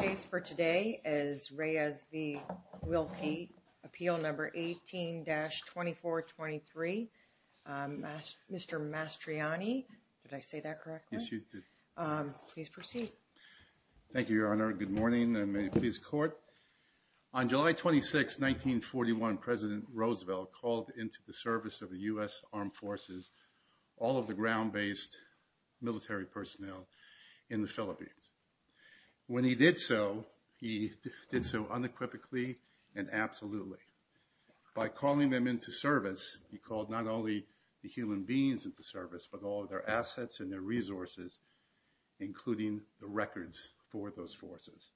Case for today is Reyes v. Wilkie, appeal number 18-2423. Mr. Mastriani, did I say that correctly? Yes, you did. Please proceed. Thank you, Your Honor. Good morning, and may it please the Court. On July 26, 1941, President Roosevelt called into the service of the U.S. Armed Forces all of the ground-based military personnel in the Philippines. When he did so, he did so unequivocally and absolutely. By calling them into service, he called not only the human beings into service, but all of their assets and their resources, including the records for those forces.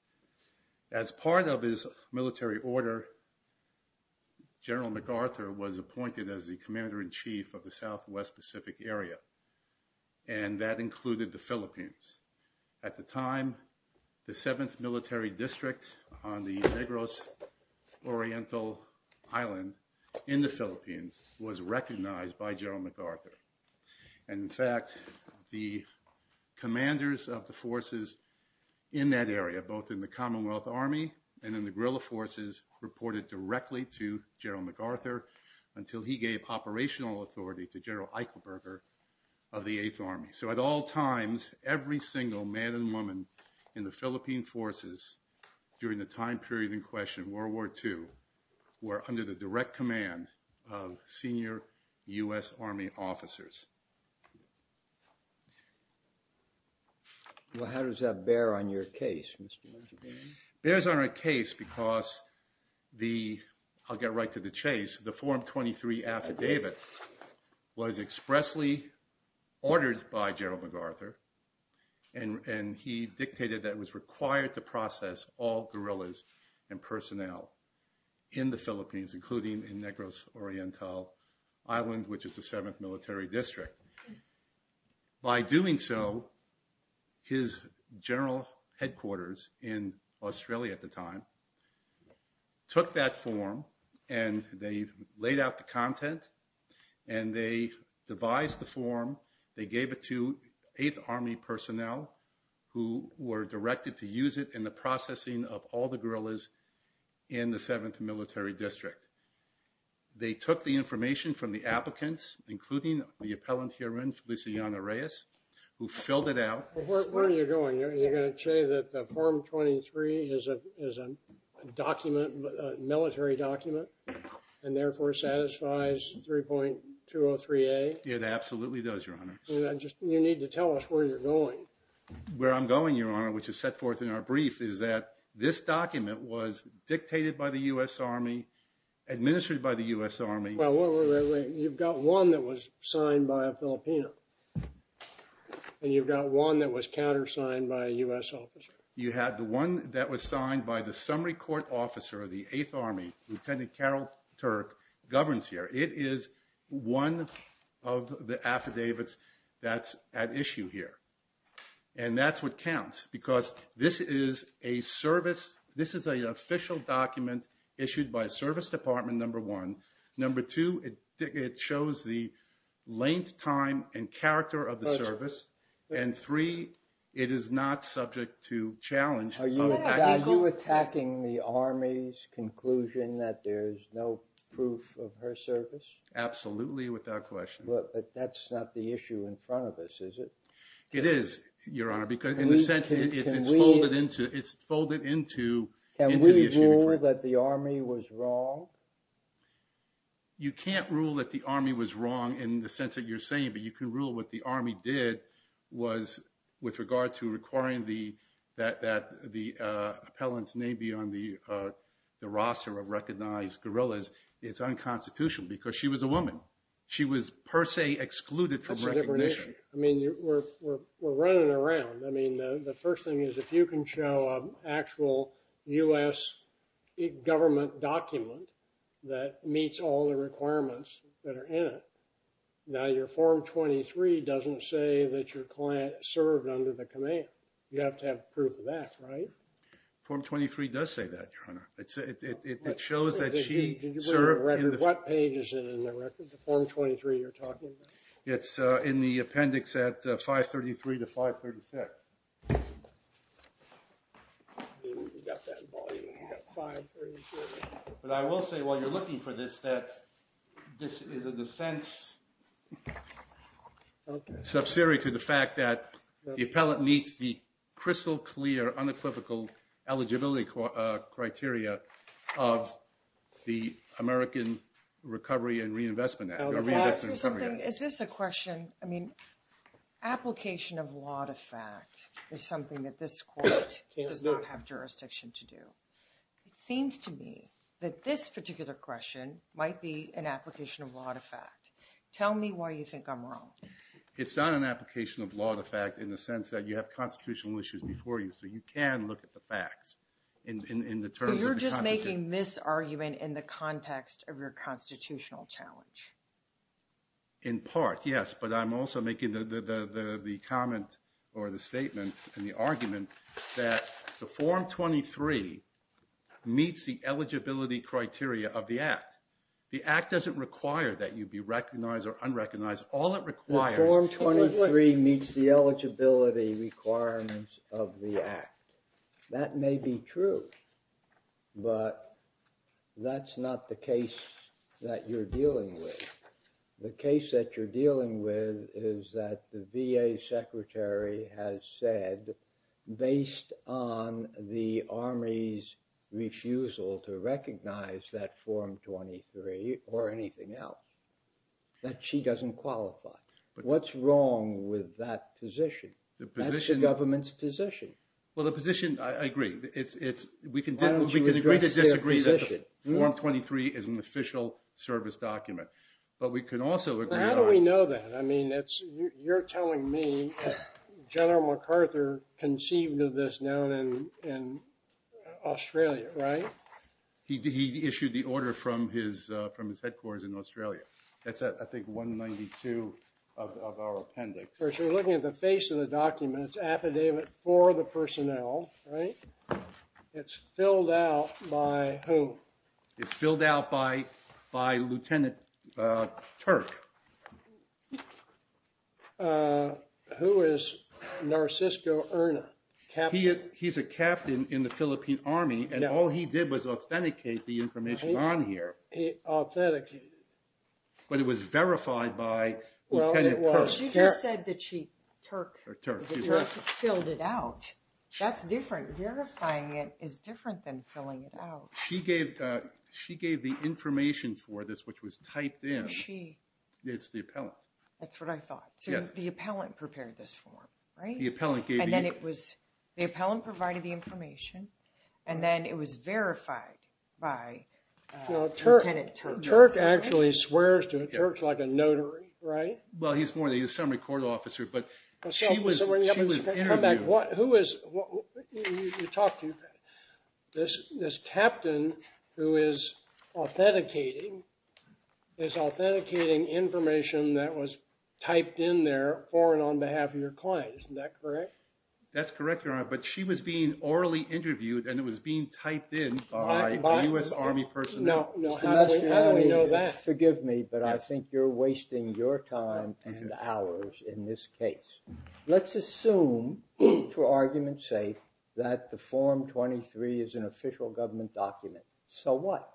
As part of his military order, General MacArthur was appointed as the Commander-in-Chief of the Southwest Pacific Area, and that included the Philippines. At the time, the 7th Military District on the Negros Oriental Island in the Philippines was recognized by General MacArthur. And in fact, the commanders of the forces in that area, both in the Commonwealth Army and in the guerrilla forces, reported directly to General MacArthur until he gave operational authority to General Eichelberger of the 8th Army. So at all times, every single man and woman in the Philippine forces during the time period in question, World War II, were under the direct command of senior U.S. Army officers. Well, how does that bear on your case, Mr. Benjamin? It bears on our case because the, I'll get right to the chase, the Form 23 Affidavit was expressly ordered by General MacArthur and he dictated that it was required to process all guerrillas and personnel in the Philippines, including in Negros Oriental Island, which is the 7th Military District. By doing so, his general headquarters in Australia at the time took that form and they laid out the content and they devised the form, they gave it to 8th Army personnel who were directed to use it in the processing of all the guerrillas in the 7th Military District. They took the information from the applicants, including the appellant herein, Feliciano Reyes, who filled it out. Where are you going? Are you gonna say that the Form 23 is a military document and therefore satisfies 3.203A? It absolutely does, Your Honor. You need to tell us where you're going. Where I'm going, Your Honor, which is set forth in our brief, is that this document was dictated by the U.S. Army, administered by the U.S. Army. Well, you've got one that was signed by a Filipino. And you've got one that was countersigned by a U.S. officer. You had the one that was signed by the summary court officer of the 8th Army, Lieutenant Carol Turk, governs here. It is one of the affidavits that's at issue here. And that's what counts, because this is a service, this is an official document issued by Service Department Number One. Number Two, it shows the length, time, and character of the service. And Three, it is not subject to challenge. Are you attacking the Army's conclusion that there's no proof of her service? Absolutely, without question. But that's not the issue in front of us, is it? It is, Your Honor, because in a sense, it's folded into the issue. Can we rule that the Army was wrong? You can't rule that the Army was wrong in the sense that you're saying, but you can rule what the Army did was with regard to requiring that the appellants may be on the roster of recognized guerrillas. It's unconstitutional, because she was a woman. She was per se excluded from recognition. I mean, we're running around. I mean, the first thing is, if you can show an actual U.S. government document that meets all the requirements that are in it, now your Form 23 doesn't say that your client served under the command. You have to have proof of that, right? Form 23 does say that, Your Honor. It shows that she served in the- What page is it in the record, the Form 23 you're talking about? It's in the appendix at 533 to 536. We've got that volume, we've got 536. But I will say, while you're looking for this, that this is a defense subsidiary to the fact that the appellant meets the crystal clear, unequivocal eligibility criteria of the American Recovery and Reinvestment Act. Or Reinvestment and Recovery Act. Is this a question, I mean, application of law to fact is something that this court does not have jurisdiction to do. It seems to me that this particular question might be an application of law to fact. Tell me why you think I'm wrong. It's not an application of law to fact in the sense that you have constitutional issues before you, so you can look at the facts in the terms of the constitution. So you're just making this argument in the context of your constitutional challenge? In part, yes. But I'm also making the comment or the statement and the argument that the Form 23 meets the eligibility criteria of the act. The act doesn't require that you be recognized or unrecognized. All it requires- It meets the eligibility requirements of the act. That may be true, but that's not the case that you're dealing with. The case that you're dealing with is that the VA secretary has said, based on the Army's refusal to recognize that Form 23 or anything else, that she doesn't qualify. What's wrong with that position? The position- That's the government's position. Well, the position, I agree, it's, we can agree to disagree that Form 23 is an official service document, but we can also agree on- But how do we know that? I mean, you're telling me that General MacArthur conceived of this now in Australia, right? He issued the order from his headquarters in Australia. That's, I think, 192 of our appendix. Well, if you're looking at the face of the document, it's affidavit for the personnel, right? It's filled out by who? It's filled out by Lieutenant Turk. Who is Narcisco Urna, captain? He's a captain in the Philippine Army, and all he did was authenticate the information on here. He authenticated it. But it was verified by Lieutenant Turk. She just said that she, Turk, that Turk filled it out. That's different. Verifying it is different than filling it out. She gave the information for this, which was typed in. She? It's the appellant. That's what I thought. So the appellant prepared this form, right? The appellant gave the- And then it was, the appellant provided the information, and then it was verified by- Lieutenant Turk. Turk actually swears to Turk like a notary, right? Well, he's more of the assembly court officer, but she was interviewed. Who is, you talked to this captain who is authenticating information that was typed in there for and on behalf of your client. Isn't that correct? That's correct, Your Honor, but she was being orally interviewed, and it was being typed in by a U.S. Army personnel. No, no, how do we know that? Forgive me, but I think you're wasting your time and hours in this case. Let's assume, for argument's sake, that the Form 23 is an official government document. So what?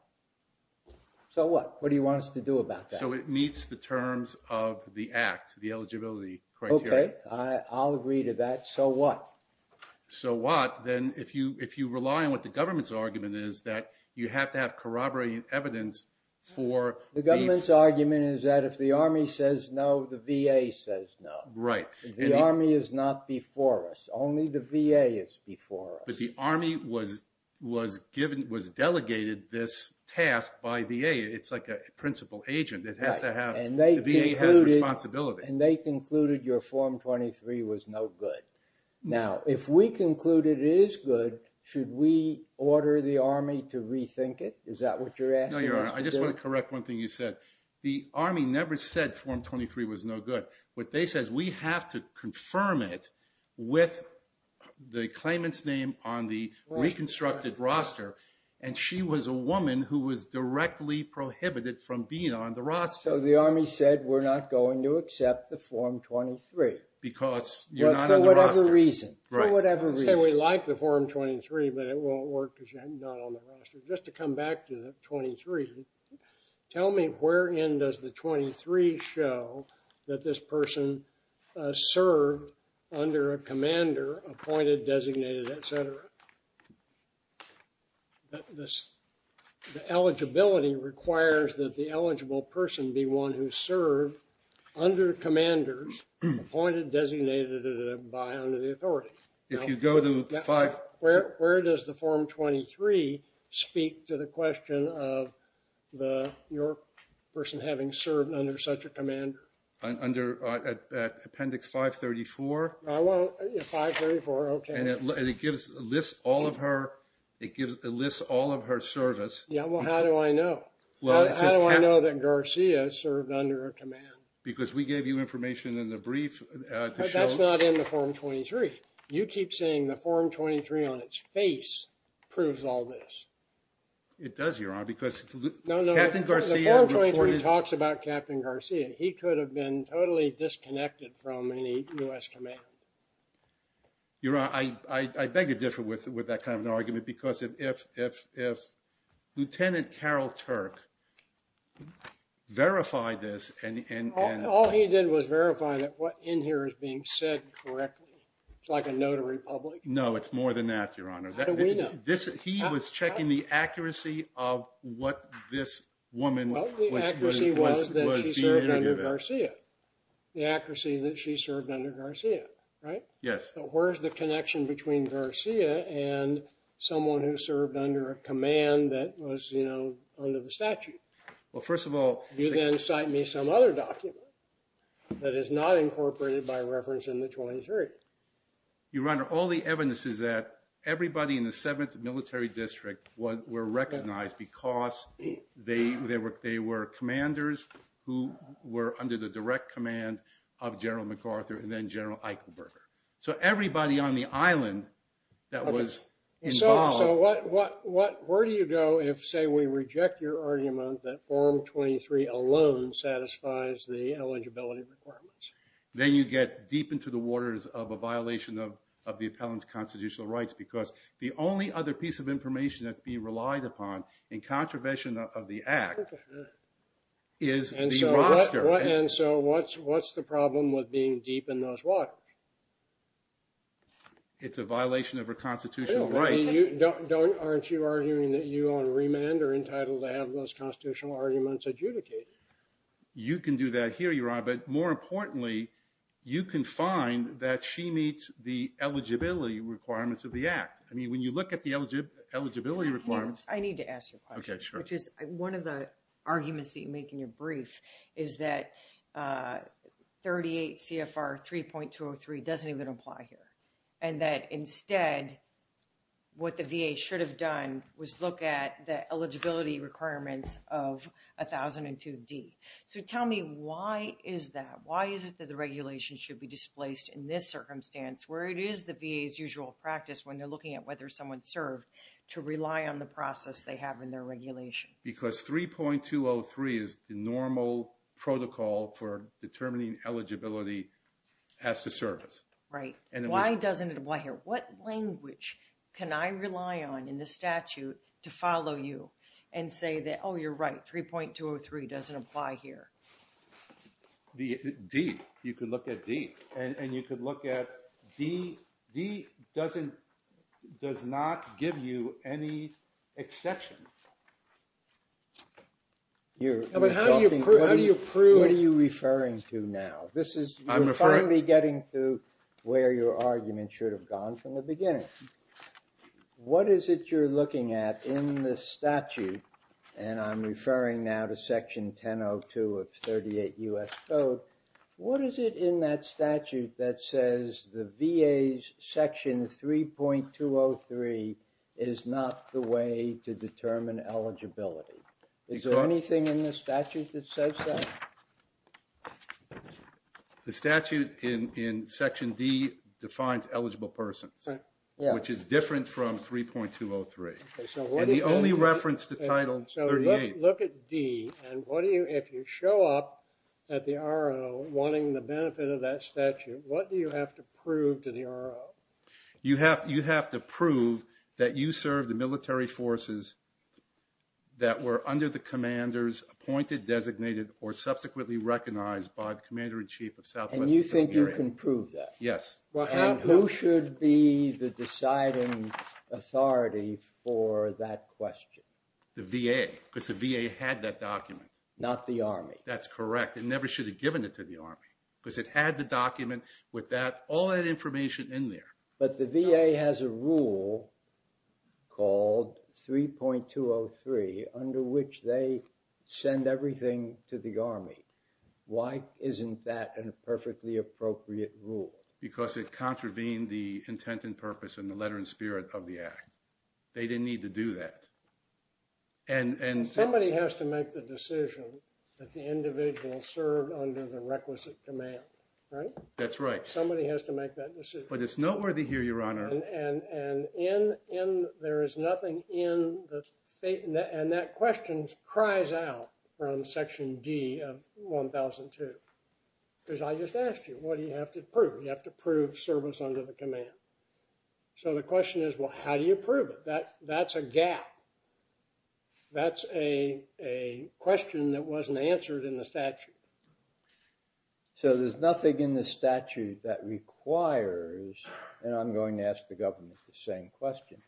So what? What do you want us to do about that? So it meets the terms of the act, the eligibility criteria. Okay, I'll agree to that. So what? So what? Then if you rely on what the government's argument is, that you have to have corroborating evidence for. The government's argument is that if the Army says no, the VA says no. Right. The Army is not before us. Only the VA is before us. But the Army was delegated this task by VA. It's like a principal agent. It has to have, the VA has responsibility. And they concluded your Form 23 was no good. Now, if we conclude it is good, should we order the Army to rethink it? Is that what you're asking us to do? No, Your Honor, I just want to correct one thing you said. The Army never said Form 23 was no good. What they said is we have to confirm it with the claimant's name on the reconstructed roster. And she was a woman who was directly prohibited from being on the roster. So the Army said we're not going to accept the Form 23. Because you're not on the roster. For whatever reason. For whatever reason. Say we like the Form 23, but it won't work because you're not on the roster. Just to come back to the 23, tell me where in does the 23 show that this person served under a commander, appointed, designated, et cetera? The eligibility requires that the eligible person be one who served under commanders, appointed, designated, et cetera, by under the authority. If you go to five. Where does the Form 23 speak to the question of your person having served under such a commander? Under Appendix 534. I want 534, okay. And it lists all of her service. Yeah, well, how do I know? How do I know that Garcia served under a command? Because we gave you information in the brief to show. But that's not in the Form 23. You keep saying the Form 23 on its face proves all this. It does, Your Honor, because Captain Garcia reported. No, no, the Form 23 talks about Captain Garcia. He could have been totally disconnected from any U.S. command. Your Honor, I beg to differ with that kind of an argument because if Lieutenant Carol Turk verified this and. All he did was verify that what in here is being said correctly. It's like a notary public. No, it's more than that, Your Honor. How do we know? He was checking the accuracy of what this woman was. Well, the accuracy was that she served under Garcia. The accuracy that she served under Garcia, right? Yes. But where's the connection between Garcia and someone who served under a command that was under the statute? Well, first of all. You then cite me some other document that is not incorporated by reference in the 23. Your Honor, all the evidence is that everybody in the 7th Military District were recognized because they were commanders who were under the direct command of General MacArthur and then General Eichelberger. So everybody on the island that was involved. So where do you go if, say, we reject your argument that Form 23 alone satisfies the eligibility requirements? Then you get deep into the waters of a violation of the appellant's constitutional rights because the only other piece of information that's being relied upon in contravention of the act is the roster. And so what's the problem with being deep in those waters? It's a violation of her constitutional rights. Don't, aren't you arguing that you on remand are entitled to have those constitutional arguments adjudicated? You can do that here, Your Honor. But more importantly, you can find that she meets the eligibility requirements of the act. I mean, when you look at the eligibility requirements. I need to ask you a question. Okay, sure. Which is, one of the arguments that you make in your brief is that 38 CFR 3.203 doesn't even apply here. And that instead, what the VA should have done was look at the eligibility requirements of 1002D. So tell me, why is that? Why is it that the regulation should be displaced in this circumstance where it is the VA's usual practice when they're looking at whether someone's served to rely on the process they have in their regulation? Because 3.203 is the normal protocol for determining eligibility as to service. Right, why doesn't it apply here? What language can I rely on in the statute to follow you and say that, oh, you're right, 3.203 doesn't apply here? D, you could look at D. And you could look at D. D doesn't, does not give you any exception. You're talking, what do you prove? What are you referring to now? This is, you're finally getting to where your argument should have gone from the beginning. What is it you're looking at in this statute? And I'm referring now to section 1002 of 38 U.S. Code. What is it in that statute that says the VA's section 3.203 is not the way to determine eligibility? Is there anything in the statute that says that? The statute in section D defines eligible persons. Which is different from 3.203. And the only reference to title 38. So look at D, and what do you, if you show up at the R.O. wanting the benefit of that statute, what do you have to prove to the R.O.? You have to prove that you serve the military forces that were under the commander's appointed, designated, or subsequently recognized by the commander-in-chief of Southwest. And you think you can prove that? Yes. And who should be the deciding authority for that question? The VA, because the VA had that document. Not the Army. That's correct, it never should have given it to the Army. Because it had the document with that, all that information in there. But the VA has a rule called 3.203 under which they send everything to the Army. Why isn't that a perfectly appropriate rule? Because it contravened the intent and purpose and the letter and spirit of the act. They didn't need to do that. And, and. Somebody has to make the decision that the individual served under the requisite command. Right? That's right. Somebody has to make that decision. But it's noteworthy here, Your Honor. And, and, and in, in, there is nothing in the state, and that question cries out from Section D of 1002. Because I just asked you, what do you have to prove? You have to prove service under the command. So the question is, well, how do you prove it? That's a gap. That's a question that wasn't answered in the statute. So there's nothing in the statute that requires, and I'm going to ask the government the same question.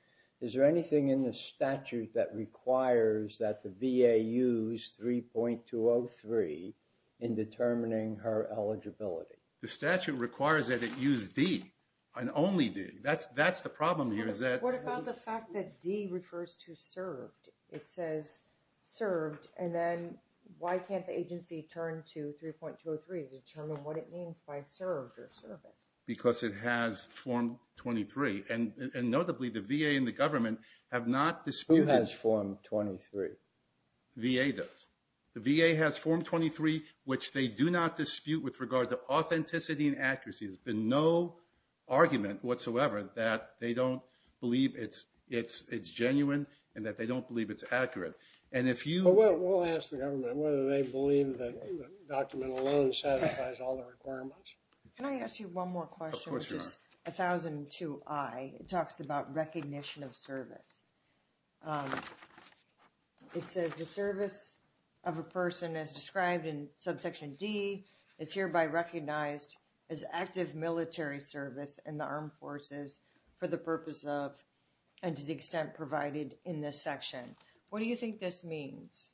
Is there anything in the statute that requires that the VA use 3.203 in determining her eligibility? The statute requires that it use D, an only D. That's, that's the problem here is that. What about the fact that D refers to served? It says served, and then why can't the agency turn to 3.203 to determine what it means by served or service? Because it has Form 23. And notably, the VA and the government have not disputed. Who has Form 23? VA does. The VA has Form 23, which they do not dispute with regard to authenticity and accuracy. There's been no argument whatsoever that they don't believe it's, it's, it's genuine, and that they don't believe it's accurate. And if you. Well, we'll ask the government whether they believe Can I ask you one more question? Of course you are. 1002I, it talks about recognition of service. It says the service of a person as described in subsection D is hereby recognized as active military service in the armed forces for the purpose of, and to the extent provided in this section. What do you think this means?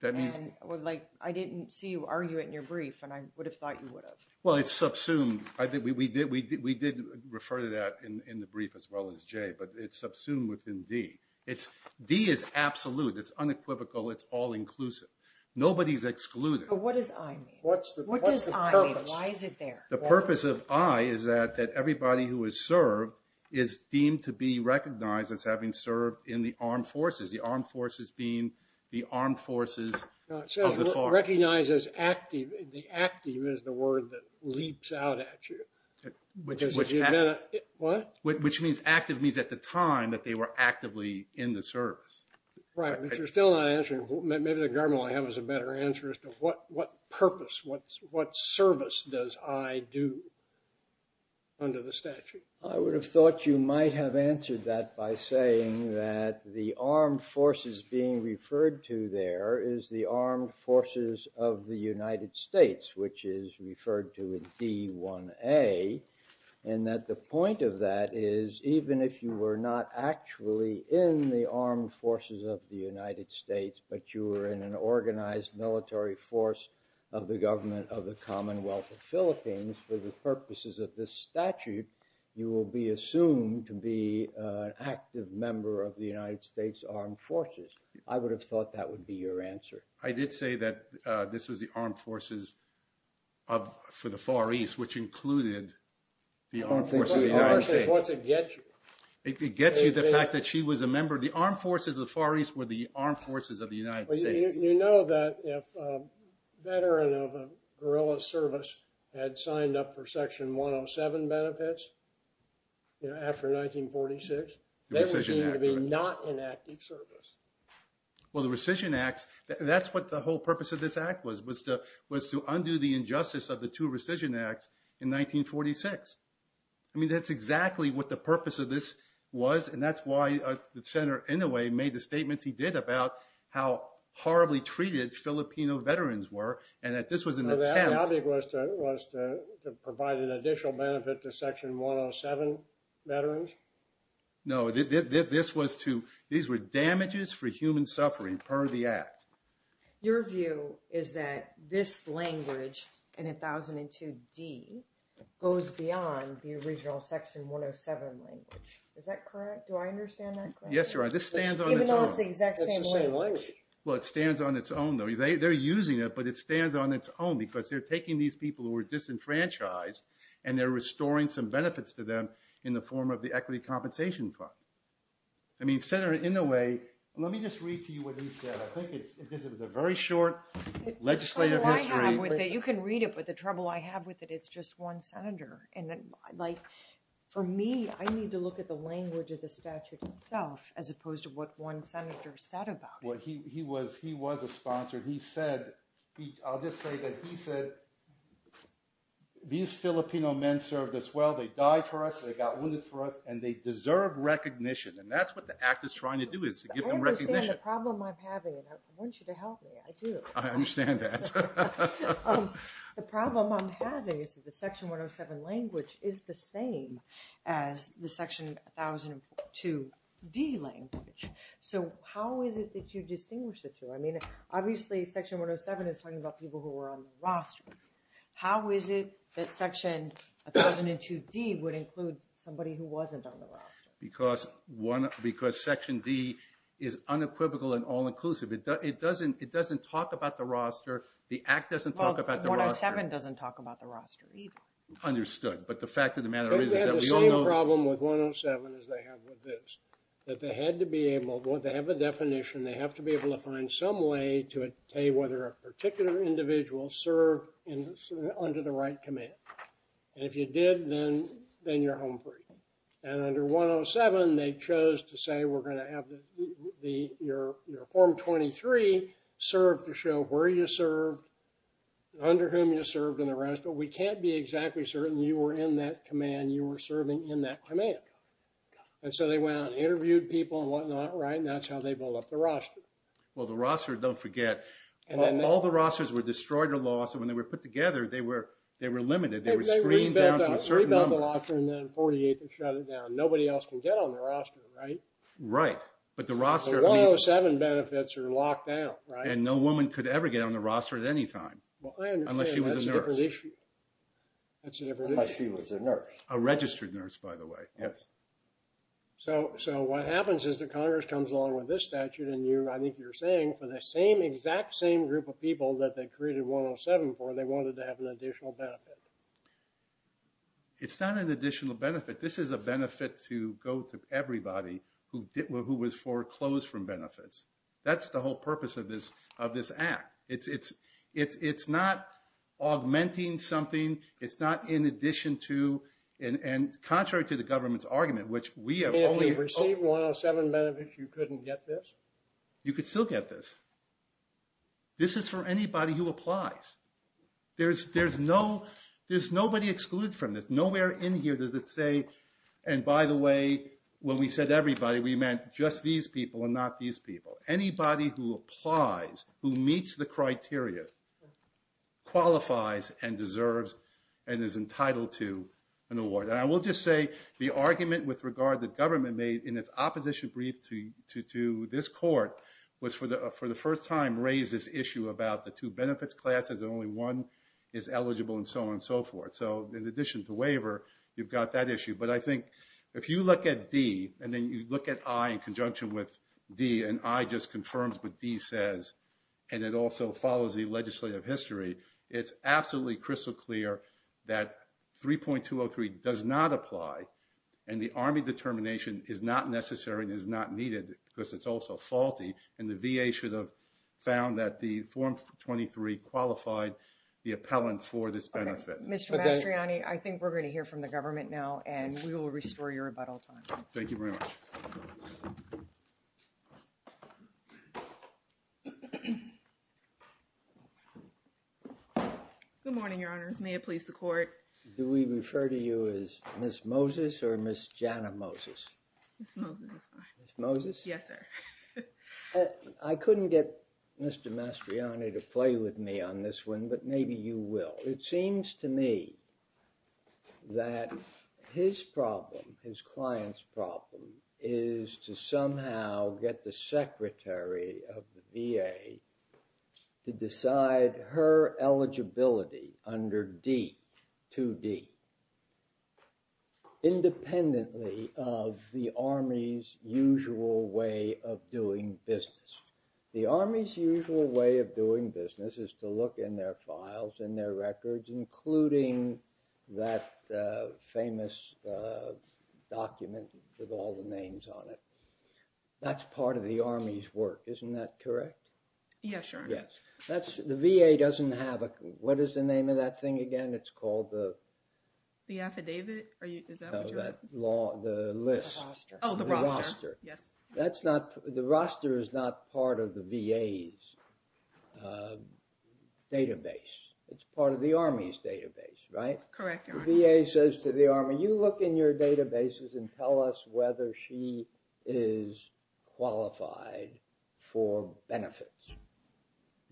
That means. Well, like, I didn't see you argue it in your brief, and I would have thought you would have. Well, it's subsumed. We did refer to that in the brief as well as Jay, but it's subsumed within D. It's, D is absolute, it's unequivocal, it's all inclusive. Nobody's excluded. But what does I mean? What's the purpose? What does I mean? Why is it there? The purpose of I is that everybody who is served is deemed to be recognized as having served in the armed forces, the armed forces being the armed forces of the FARC. Recognized as active, the active is the word that leaps out at you, which is, what? Which means active means at the time that they were actively in the service. Right, but you're still not answering, maybe the government will have us a better answer as to what purpose, what service does I do under the statute? I would have thought you might have answered that by saying that the armed forces being referred to there is the armed forces of the United States, which is referred to as D1A. And that the point of that is, even if you were not actually in the armed forces of the United States, but you were in an organized military force of the government of the Commonwealth of Philippines, for the purposes of this statute, you will be assumed to be an active member of the United States Armed Forces. I would have thought that would be your answer. I did say that this was the armed forces for the Far East, which included the armed forces of the United States. The armed forces, what's it get you? It gets you the fact that she was a member, the armed forces of the Far East were the armed forces of the United States. You know that if a veteran of a guerrilla service had signed up for Section 107 benefits, after 1946, they were deemed to be not in active service. Well, the Rescission Acts, that's what the whole purpose of this act was, was to undo the injustice of the two Rescission Acts in 1946. I mean, that's exactly what the purpose of this was. And that's why Senator Inouye made the statements he did about how horribly treated Filipino veterans were. And that this was an attempt- So the ad hoc was to provide an additional benefit to Section 107 veterans? No, this was to, these were damages for human suffering per the act. Your view is that this language in 1002D goes beyond the original Section 107 language. Is that correct? Do I understand that correctly? Yes, Your Honor, this stands on its own. Even though it's the exact same language. Well, it stands on its own, though. They're using it, but it stands on its own because they're taking these people who were disenfranchised and they're restoring some benefits to them in the form of the Equity Compensation Fund. I mean, Senator Inouye, let me just read to you what he said. I think it's, because it was a very short legislative history- The trouble I have with it, you can read it, but the trouble I have with it, it's just one senator. And like, for me, I need to look at the language of the statute itself as opposed to what one senator said about it. Well, he was, he was a sponsor. He said, I'll just say that he said, that these Filipino men served us well. They died for us, they got wounded for us, and they deserve recognition. And that's what the act is trying to do, is to give them recognition. I understand the problem I'm having, and I want you to help me, I do. I understand that. The problem I'm having is that the Section 107 language is the same as the Section 1002D language. So how is it that you distinguish the two? I mean, obviously, Section 107 is talking about people who are on the roster. How is it that Section 1002D would include somebody who wasn't on the roster? Because one, because Section D is unequivocal and all-inclusive. It doesn't talk about the roster. The act doesn't talk about the roster. Well, 107 doesn't talk about the roster, either. Understood, but the fact of the matter is that we all know- They've had the same problem with 107 as they have with this. That they had to be able, they have a definition, they have to be able to find some way to tell you whether a particular individual served under the right command. And if you did, then you're home free. And under 107, they chose to say, we're gonna have your Form 23 serve to show where you served, under whom you served, and the rest, but we can't be exactly certain you were in that command, you were serving in that command. And so they went out and interviewed people and whatnot, right? And that's how they build up the roster. Well, the roster, don't forget, all the rosters were destroyed or lost, and when they were put together, they were limited. They were screened down to a certain number. They rebuilt the roster, and then 48, they shut it down. Nobody else can get on the roster, right? Right, but the roster, I mean- The 107 benefits are locked down, right? And no woman could ever get on the roster at any time. Well, I understand, that's a different issue. That's a different issue. Unless she was a nurse. A registered nurse, by the way, yes. So what happens is that Congress comes along with this statute, and I think you're saying, for the same, exact same group of people that they created 107 for, they wanted to have an additional benefit. It's not an additional benefit. This is a benefit to go to everybody who was foreclosed from benefits. That's the whole purpose of this act. It's not augmenting something. It's not in addition to, and contrary to the government's argument, which we have only- If you get 107 benefits, you couldn't get this? You could still get this. This is for anybody who applies. There's nobody excluded from this. Nowhere in here does it say, and by the way, when we said everybody, we meant just these people and not these people. Anybody who applies, who meets the criteria, qualifies and deserves and is entitled to an award. And I will just say, the argument with regard that government made in its opposition brief to this court was for the first time, raise this issue about the two benefits classes and only one is eligible and so on and so forth. So in addition to waiver, you've got that issue. But I think if you look at D and then you look at I in conjunction with D and I just confirms what D says, and it also follows the legislative history, it's absolutely crystal clear that 3.203 does not apply and the Army determination is not necessary and is not needed because it's also faulty and the VA should have found that the form 23 qualified the appellant for this benefit. Mr. Mastriani, I think we're gonna hear from the government now and we will restore your rebuttal time. Thank you very much. Good morning, your honors. May it please the court. Do we refer to you as Ms. Moses or Ms. Jana Moses? Ms. Moses. Ms. Moses? Yes, sir. I couldn't get Mr. Mastriani to play with me on this one, but maybe you will. It seems to me that his problem, his client's problem, is to somehow get the secretary of the VA to decide her eligibility under D, 2D, independently of the Army's usual way of doing business. The Army's usual way of doing business is to look in their files and their records, including that famous document with all the names on it. That's part of the Army's work, isn't that correct? Yes, your honor. The VA doesn't have a, what is the name of that thing again? It's called the? The affidavit? Is that what you're? No, the list. Oh, the roster. The roster. The roster is not part of the VA's database. It's part of the Army's database, right? Correct, your honor. The VA says to the Army, you look in your databases and tell us whether she is qualified for benefits.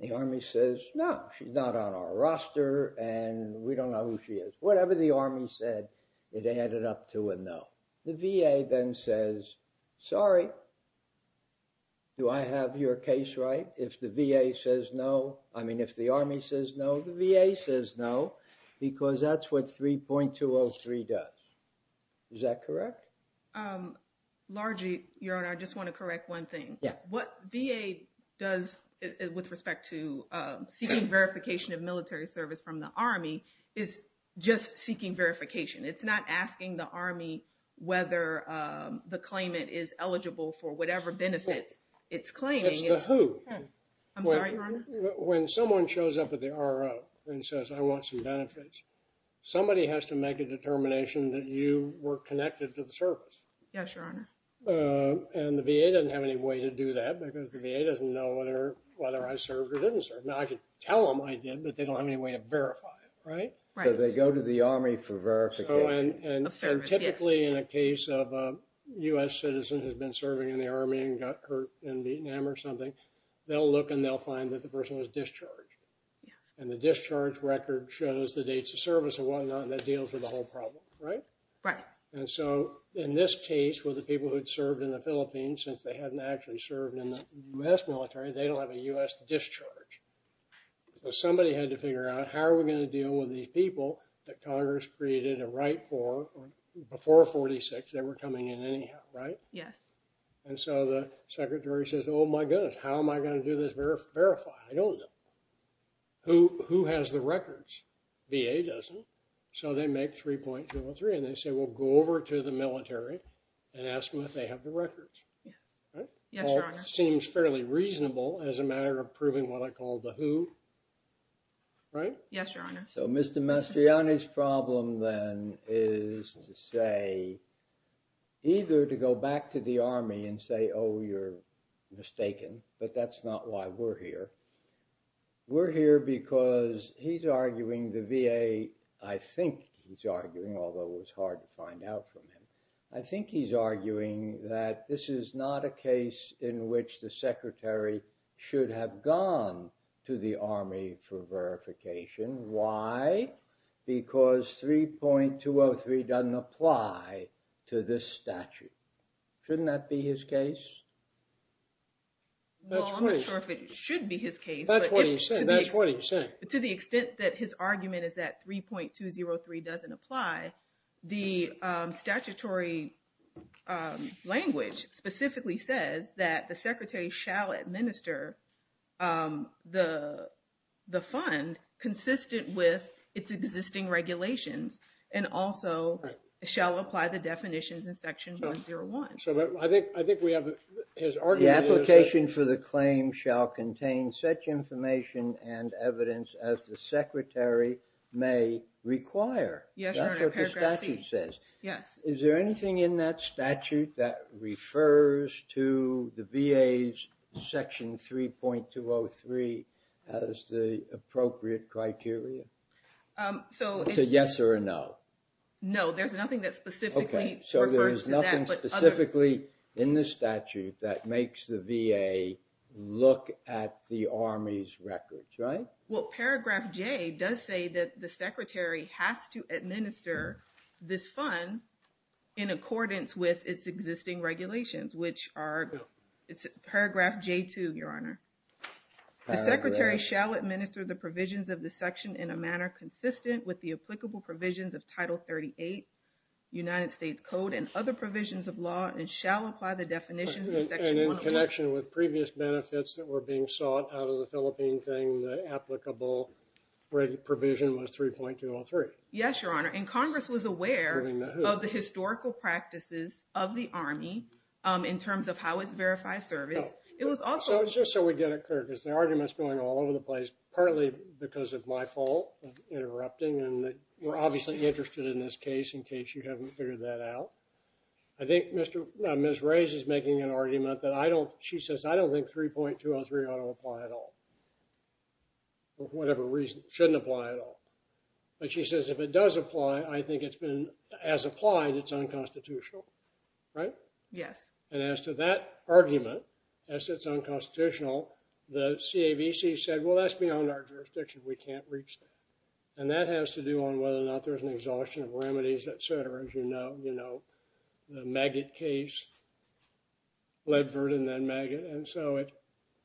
The Army says, no, she's not on our roster and we don't know who she is. Whatever the Army said, it added up to a no. The VA then says, sorry, do I have your case right? If the VA says no, I mean, if the Army says no, the VA says no, because that's what 3.203 does. Is that correct? Largely, your honor, I just want to correct one thing. What VA does with respect to seeking verification of military service from the Army is just seeking verification. It's not asking the Army whether the claimant is eligible for whatever benefits it's claiming. It's the who. I'm sorry, your honor. When someone shows up at the RO and says, I want some benefits, somebody has to make a determination that you were connected to the service. Yes, your honor. And the VA doesn't have any way to do that because the VA doesn't know whether I served or didn't serve. Now I could tell them I did, but they don't have any way to verify it, right? Right. So they go to the Army for verification. Of service, yes. And typically in a case of a U.S. citizen who's been serving in the Army and got hurt in Vietnam or something, they'll look and they'll find that the person was discharged and the discharge record shows the dates of service and whatnot and that deals with the whole problem, right? Right. And so in this case, with the people who'd served in the Philippines since they hadn't actually served in the U.S. military, they don't have a U.S. discharge. So somebody had to figure out how are we gonna deal with these people that Congress created a right for before 46, they were coming in anyhow, right? Yes. And so the secretary says, oh my goodness, how am I gonna do this, verify? I don't know. Who has the records? VA doesn't. So they make 3.03 and they say, we'll go over to the military and ask them if they have the records, right? Yes, Your Honor. Seems fairly reasonable as a matter of proving what I call the who, right? Yes, Your Honor. So Mr. Mastriani's problem then is to say, either to go back to the Army and say, oh, you're mistaken, but that's not why we're here. We're here because he's arguing the VA, I think he's arguing, although it was hard to find out from him. I think he's arguing that this is not a case in which the secretary should have gone to the Army for verification. Why? Because 3.203 doesn't apply to this statute. Shouldn't that be his case? Well, I'm not sure if it should be his case. That's what he's saying. To the extent that his argument is that 3.203 doesn't apply, the statutory language specifically says that the secretary shall administer the fund consistent with its existing regulations and also shall apply the definitions in section 101. So I think we have his argument is that- The application for the claim shall contain such information and evidence as the secretary may require. Yes, Your Honor, paragraph C. That's what the statute says. Yes. Is there anything in that statute that refers to the VA's section 3.203 as the appropriate criteria? So- It's a yes or a no. No, there's nothing that specifically refers to that, but other- Okay, so there's nothing specifically in the statute that makes the VA look at the Army's records, right? Well, paragraph J does say that the secretary has to administer this fund in accordance with its existing regulations, which are, it's paragraph J2, Your Honor. The secretary shall administer the provisions of the section in a manner consistent with the applicable provisions of Title 38, United States Code, and other provisions of law and shall apply the definitions in section 101. And in connection with previous benefits that were being sought out of the Philippine thing, the applicable provision was 3.203. Yes, Your Honor, and Congress was aware- Moving the hoop. Of the historical practices of the Army in terms of how it's verified service. It was also- So it's just so we get it clear, because the argument's going all over the place, partly because of my fault, interrupting, and we're obviously interested in this case in case you haven't figured that out. I think Ms. Rays is making an argument that I don't- She says, I don't think 3.203 ought to apply at all, for whatever reason, shouldn't apply at all. But she says, if it does apply, I think it's been, as applied, it's unconstitutional. Right? Yes. And as to that argument, as it's unconstitutional, the CAVC said, well, that's beyond our jurisdiction. We can't reach that. And that has to do on whether or not there's an exhaustion of remedies, et cetera, as you know, the Maggott case, Ledford and then Maggott. And so it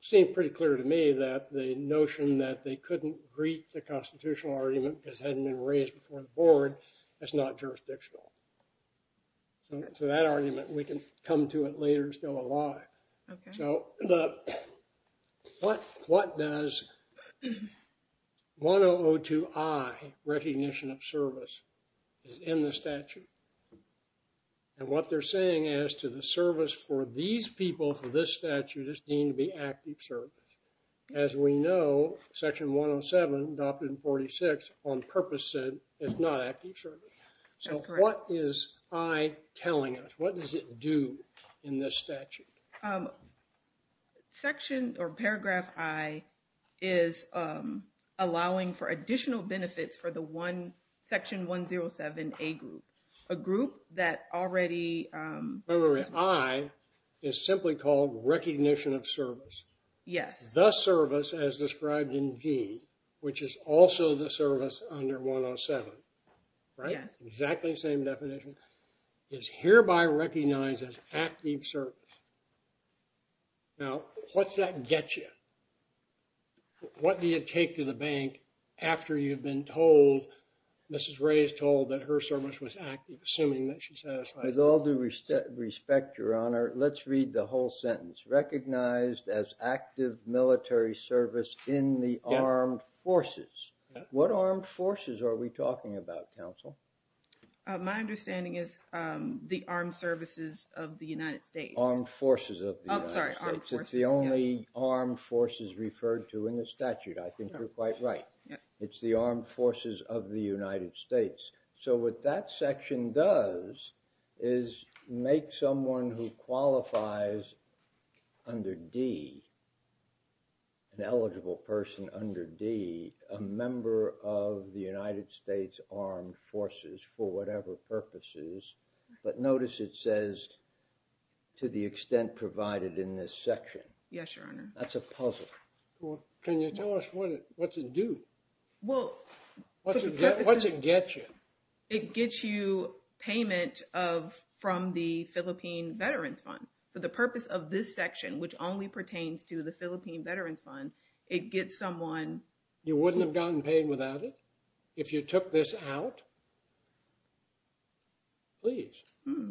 seemed pretty clear to me that the notion that they couldn't greet the constitutional argument because it hadn't been raised before the board, that's not jurisdictional. So that argument, we can come to it later still alive. So what does 1002I, recognition of service, is in the statute? And what they're saying as to the service for these people for this statute is deemed to be active service. As we know, section 107, adopted in 46, on purpose said, it's not active service. So what is I telling us? What does it do in this statute? Section or paragraph I is allowing for additional benefits for the one, section 107A group, a group that already... Wait, wait, wait, I is simply called recognition of service. Yes. The service as described in D, which is also the service under 107, right? Exactly the same definition, is hereby recognized as active service. Now, what's that get you? What do you take to the bank after you've been told, Mrs. Ray's told that her service was active, assuming that she's satisfied? With all due respect, your honor, let's read the whole sentence. Recognized as active military service in the armed forces. What armed forces are we talking about, counsel? My understanding is the armed services of the United States. Armed forces of the United States. I'm sorry, armed forces, yes. It's the only armed forces referred to in the statute. I think you're quite right. It's the armed forces of the United States. So what that section does is make someone who qualifies under D, an eligible person under D, a member of the United States Armed Forces for whatever purposes. But notice it says to the extent provided in this section. Yes, your honor. That's a puzzle. Can you tell us what's it do? Well, for the purposes. What's it get you? It gets you payment from the Philippine Veterans Fund for the purpose of this section, which only pertains to the Philippine Veterans Fund. It gets someone. You wouldn't have gotten paid without it if you took this out? Please,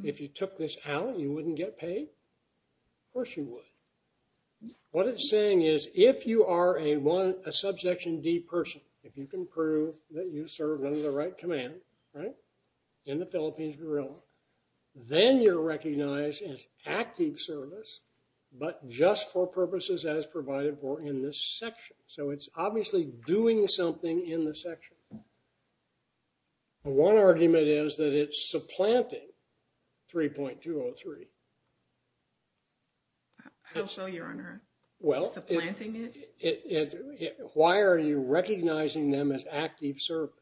if you took this out, you wouldn't get paid? Of course you would. What it's saying is if you are a subsection D person, if you can prove that you served under the right command, right, in the Philippines Guerrilla, then you're recognized as active service, but just for purposes as provided for in this section. So it's obviously doing something in the section. One argument is that it's supplanting 3.203. How so, your honor? Well, why are you recognizing them as active service?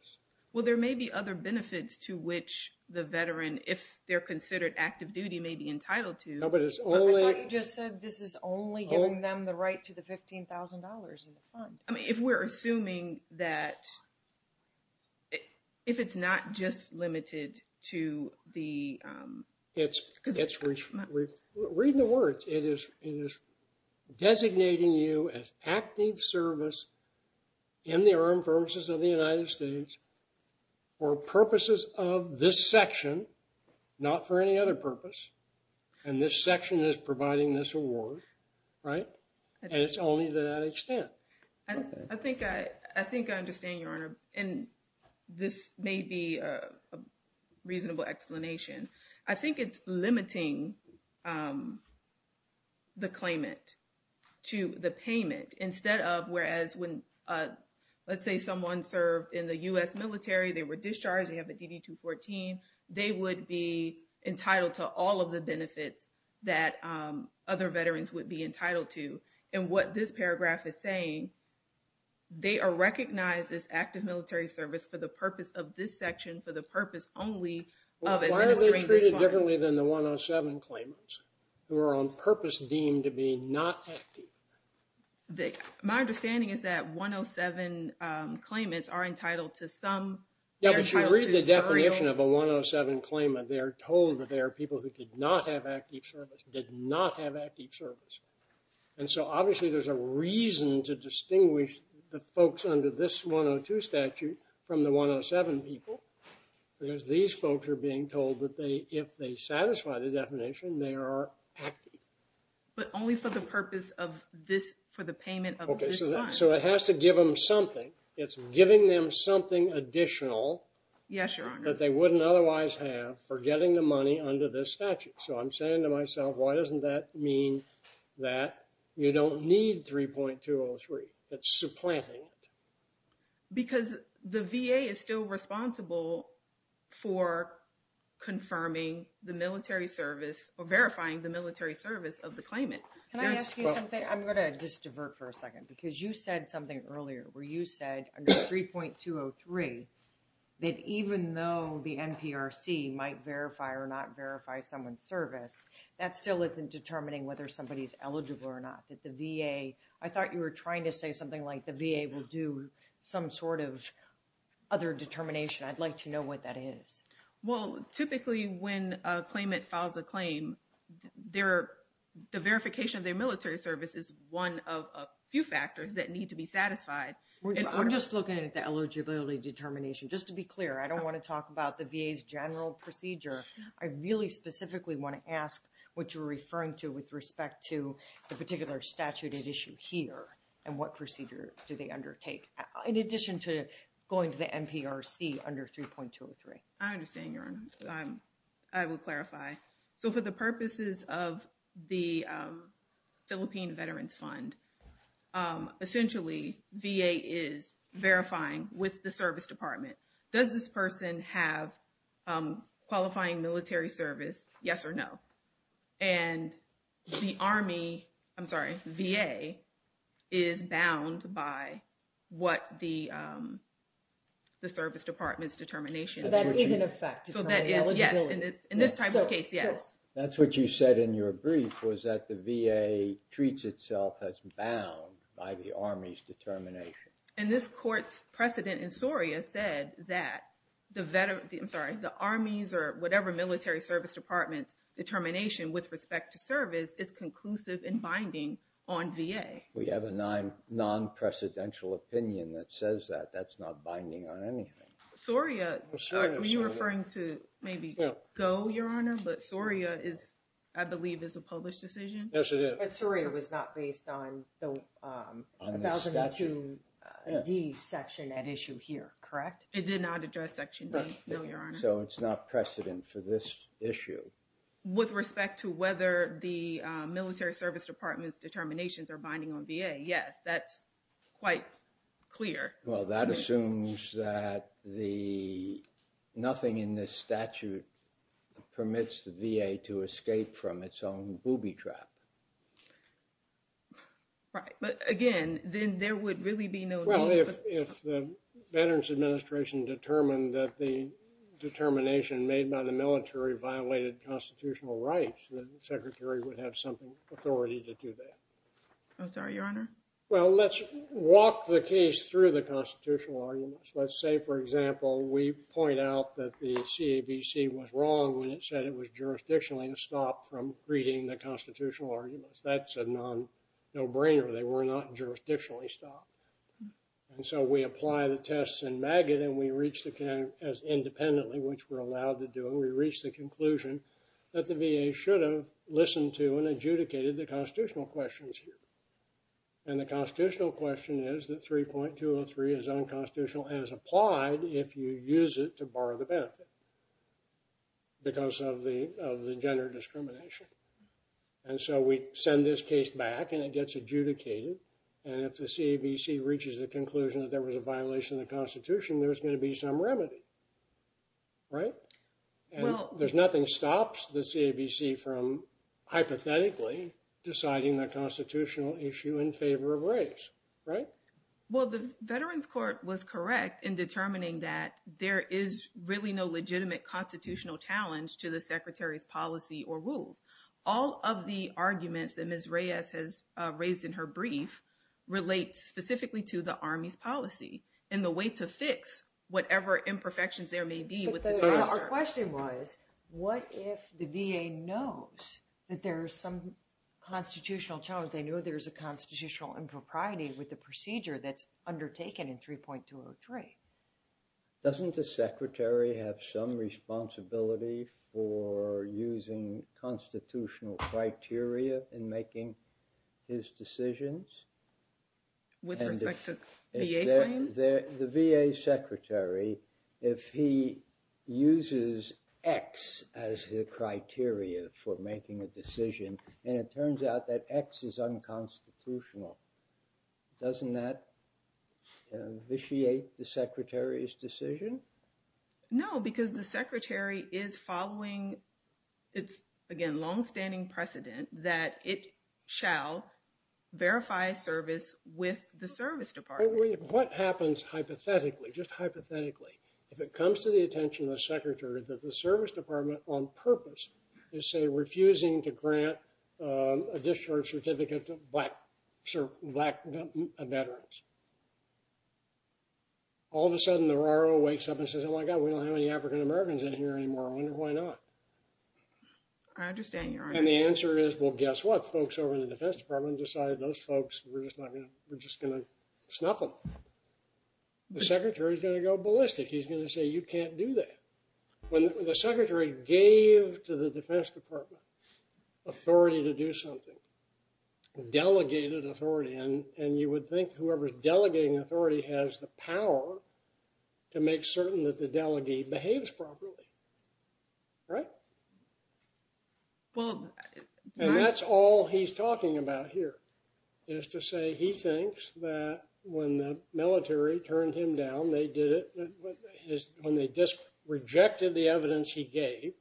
Well, there may be other benefits to which the veteran, if they're considered active duty, may be entitled to. No, but it's only. But what you just said, this is only giving them the right to the $15,000 in the fund. I mean, if we're assuming that, if it's not just limited to the. It's, read the words. It is designating you as active service in the Armed Forces of the United States for purposes of this section, not for any other purpose. And this section is providing this award, right? And it's only to that extent. I think I understand, your honor. And this may be a reasonable explanation. I think it's limiting the claimant to the payment instead of, whereas when, let's say someone served in the US military, they were discharged, they have a DD-214, they would be entitled to all of the benefits that other veterans would be entitled to. And what this paragraph is saying, they are recognized as active military service for the purpose of this section, for the purpose only of administering this fund. Why are they treated differently than the 107 claimants who are on purpose deemed to be not active? My understanding is that 107 claimants are entitled to some. Yeah, but you read the definition of a 107 claimant, they are told that they are people who did not have active service, did not have active service. And so obviously there's a reason to distinguish the folks under this 102 statute from the 107 people, because these folks are being told that they, if they satisfy the definition, they are active. But only for the purpose of this, for the payment of this fund. So it has to give them something. It's giving them something additional. Yes, your honor. That they wouldn't otherwise have for getting the money under this statute. So I'm saying to myself, why doesn't that mean that you don't need 3.203? That's supplanting. Because the VA is still responsible for confirming the military service, or verifying the military service of the claimant. Can I ask you something? I'm gonna just divert for a second, because you said something earlier, where you said under 3.203, that even though the NPRC might verify or not verify someone's service, that still isn't determining whether somebody's eligible or not. That the VA, I thought you were trying to say something like the VA will do some sort of other determination. I'd like to know what that is. Well, typically when a claimant files a claim, the verification of their military service is one of a few factors that need to be satisfied. We're just looking at the eligibility determination. Just to be clear, I don't wanna talk about the VA's general procedure. I really specifically wanna ask what you're referring to with respect to the particular statute at issue here, and what procedure do they undertake? In addition to going to the NPRC under 3.203. I understand, Your Honor. I will clarify. So for the purposes of the Philippine Veterans Fund, essentially VA is verifying with the service department. Does this person have qualifying military service? Yes or no. And the Army, I'm sorry, VA is bound by what the service department's determination. So that is in effect, it's an eligibility. So that is, yes. In this type of case, yes. That's what you said in your brief was that the VA treats itself as bound by the Army's determination. And this court's precedent in SORIA said that the, I'm sorry, the Army's or whatever military service department's determination with respect to service is conclusive in binding on VA. We have a non-precedential opinion that says that. That's not binding on anything. SORIA, are you referring to maybe GO, Your Honor? But SORIA is, I believe, is a published decision. Yes, it is. But SORIA was not based on the 1002D section at issue here, correct? It did not address section D, no, Your Honor. So it's not precedent for this issue. With respect to whether the military service department's determinations are binding on VA, yes. That's quite clear. Well, that assumes that the, nothing in this statute permits the VA to escape from its own booby trap. Right, but again, then there would really be no need. Well, if the Veterans Administration determined that the determination made by the military violated constitutional rights, the secretary would have some authority to do that. I'm sorry, Your Honor? Well, let's walk the case through the constitutional arguments. Let's say, for example, we point out that the CABC was wrong when it said it was jurisdictionally stopped from reading the constitutional arguments. That's a no-brainer. They were not jurisdictionally stopped. And so we apply the tests in MAGIT, and we reach the, as independently, which we're allowed to do, and we reach the conclusion that the VA should have listened to and adjudicated the constitutional questions here. And the constitutional question is that 3.203 is unconstitutional and is applied if you use it to borrow the benefit. Because of the gender discrimination. And so we send this case back, and it gets adjudicated. And if the CABC reaches the conclusion that there was a violation of the Constitution, there's going to be some remedy, right? And there's nothing stops the CABC from hypothetically deciding the constitutional issue in favor of race, right? Well, the Veterans Court was correct in determining that there is really no legitimate constitutional challenge to the Secretary's policy or rules. All of the arguments that Ms. Reyes has raised in her brief relate specifically to the Army's policy and the way to fix whatever imperfections there may be with this officer. Our question was, what if the VA knows that there's some constitutional challenge? They know there's a constitutional impropriety with the procedure that's undertaken in 3.203. Doesn't the Secretary have some responsibility for using constitutional criteria in making his decisions? With respect to VA claims? The VA Secretary, if he uses X as the criteria for making a decision, and it turns out that X is unconstitutional, doesn't that vitiate the Secretary's decision? No, because the Secretary is following, it's again, longstanding precedent that it shall verify service with the Service Department. What happens hypothetically, just hypothetically, if it comes to the attention of the Secretary that the Service Department on purpose is say refusing to grant a discharge certificate to black veterans? All of a sudden, the RRO wakes up and says, oh my God, we don't have any African-Americans in here anymore, I wonder why not? I understand your argument. And the answer is, well, guess what? Folks over in the Defense Department decided those folks, we're just gonna snuff them. The Secretary's gonna go ballistic. He's gonna say, you can't do that. When the Secretary gave to the Defense Department authority to do something, delegated authority, and you would think whoever's delegating authority has the power to make certain that the delegate behaves properly, right? And that's all he's talking about here, is to say he thinks that when the military turned him down, they did it, when they disrejected the evidence he gave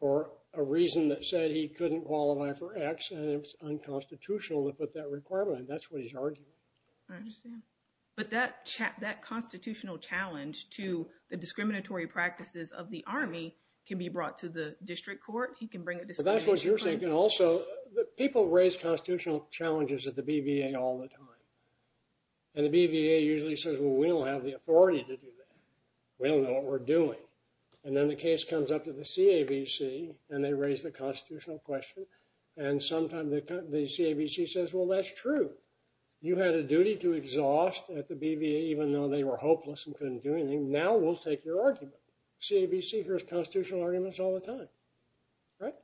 for a reason that said he couldn't qualify for X and it was unconstitutional to put that requirement, and that's what he's arguing. I understand. But that constitutional challenge to the discriminatory practices of the Army can be brought to the district court? He can bring a discrimination claim. But that's what you're saying, and also, people raise constitutional challenges at the BVA all the time. And the BVA usually says, well, we don't have the authority to do that. We don't know what we're doing. And then the case comes up to the CAVC, and they raise the constitutional question, and sometimes the CAVC says, well, that's true. You had a duty to exhaust at the BVA even though they were hopeless and couldn't do anything. Now we'll take your argument. CAVC hears constitutional arguments all the time, right?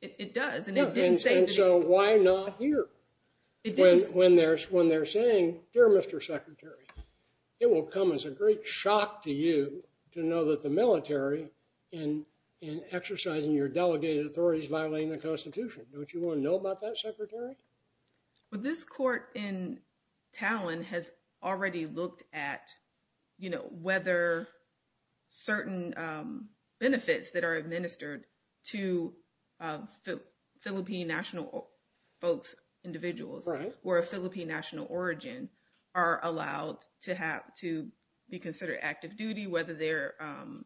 It does, and it didn't say to me. And so why not here? It didn't. When they're saying, dear Mr. Secretary, it will come as a great shock to you to know that the military in exercising your delegated authority is violating the Constitution. Don't you want to know about that, Secretary? Well, this court in Talon has already looked at whether certain benefits that are administered to Philippine national folks, individuals, or a Philippine national origin are allowed to be considered active duty, whether they're...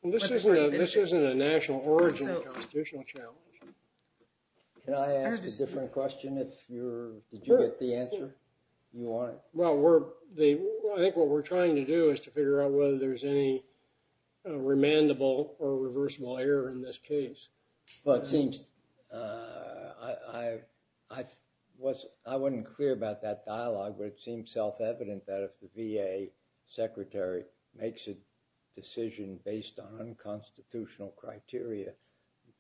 Well, this isn't a national origin or constitutional challenge. Can I ask a different question if you're, did you get the answer you wanted? Well, I think what we're trying to do is to figure out whether there's any remandable or reversible error in this case. Well, it seems, I wasn't clear about that dialogue, but it seems self-evident that if the VA secretary makes a decision based on unconstitutional criteria,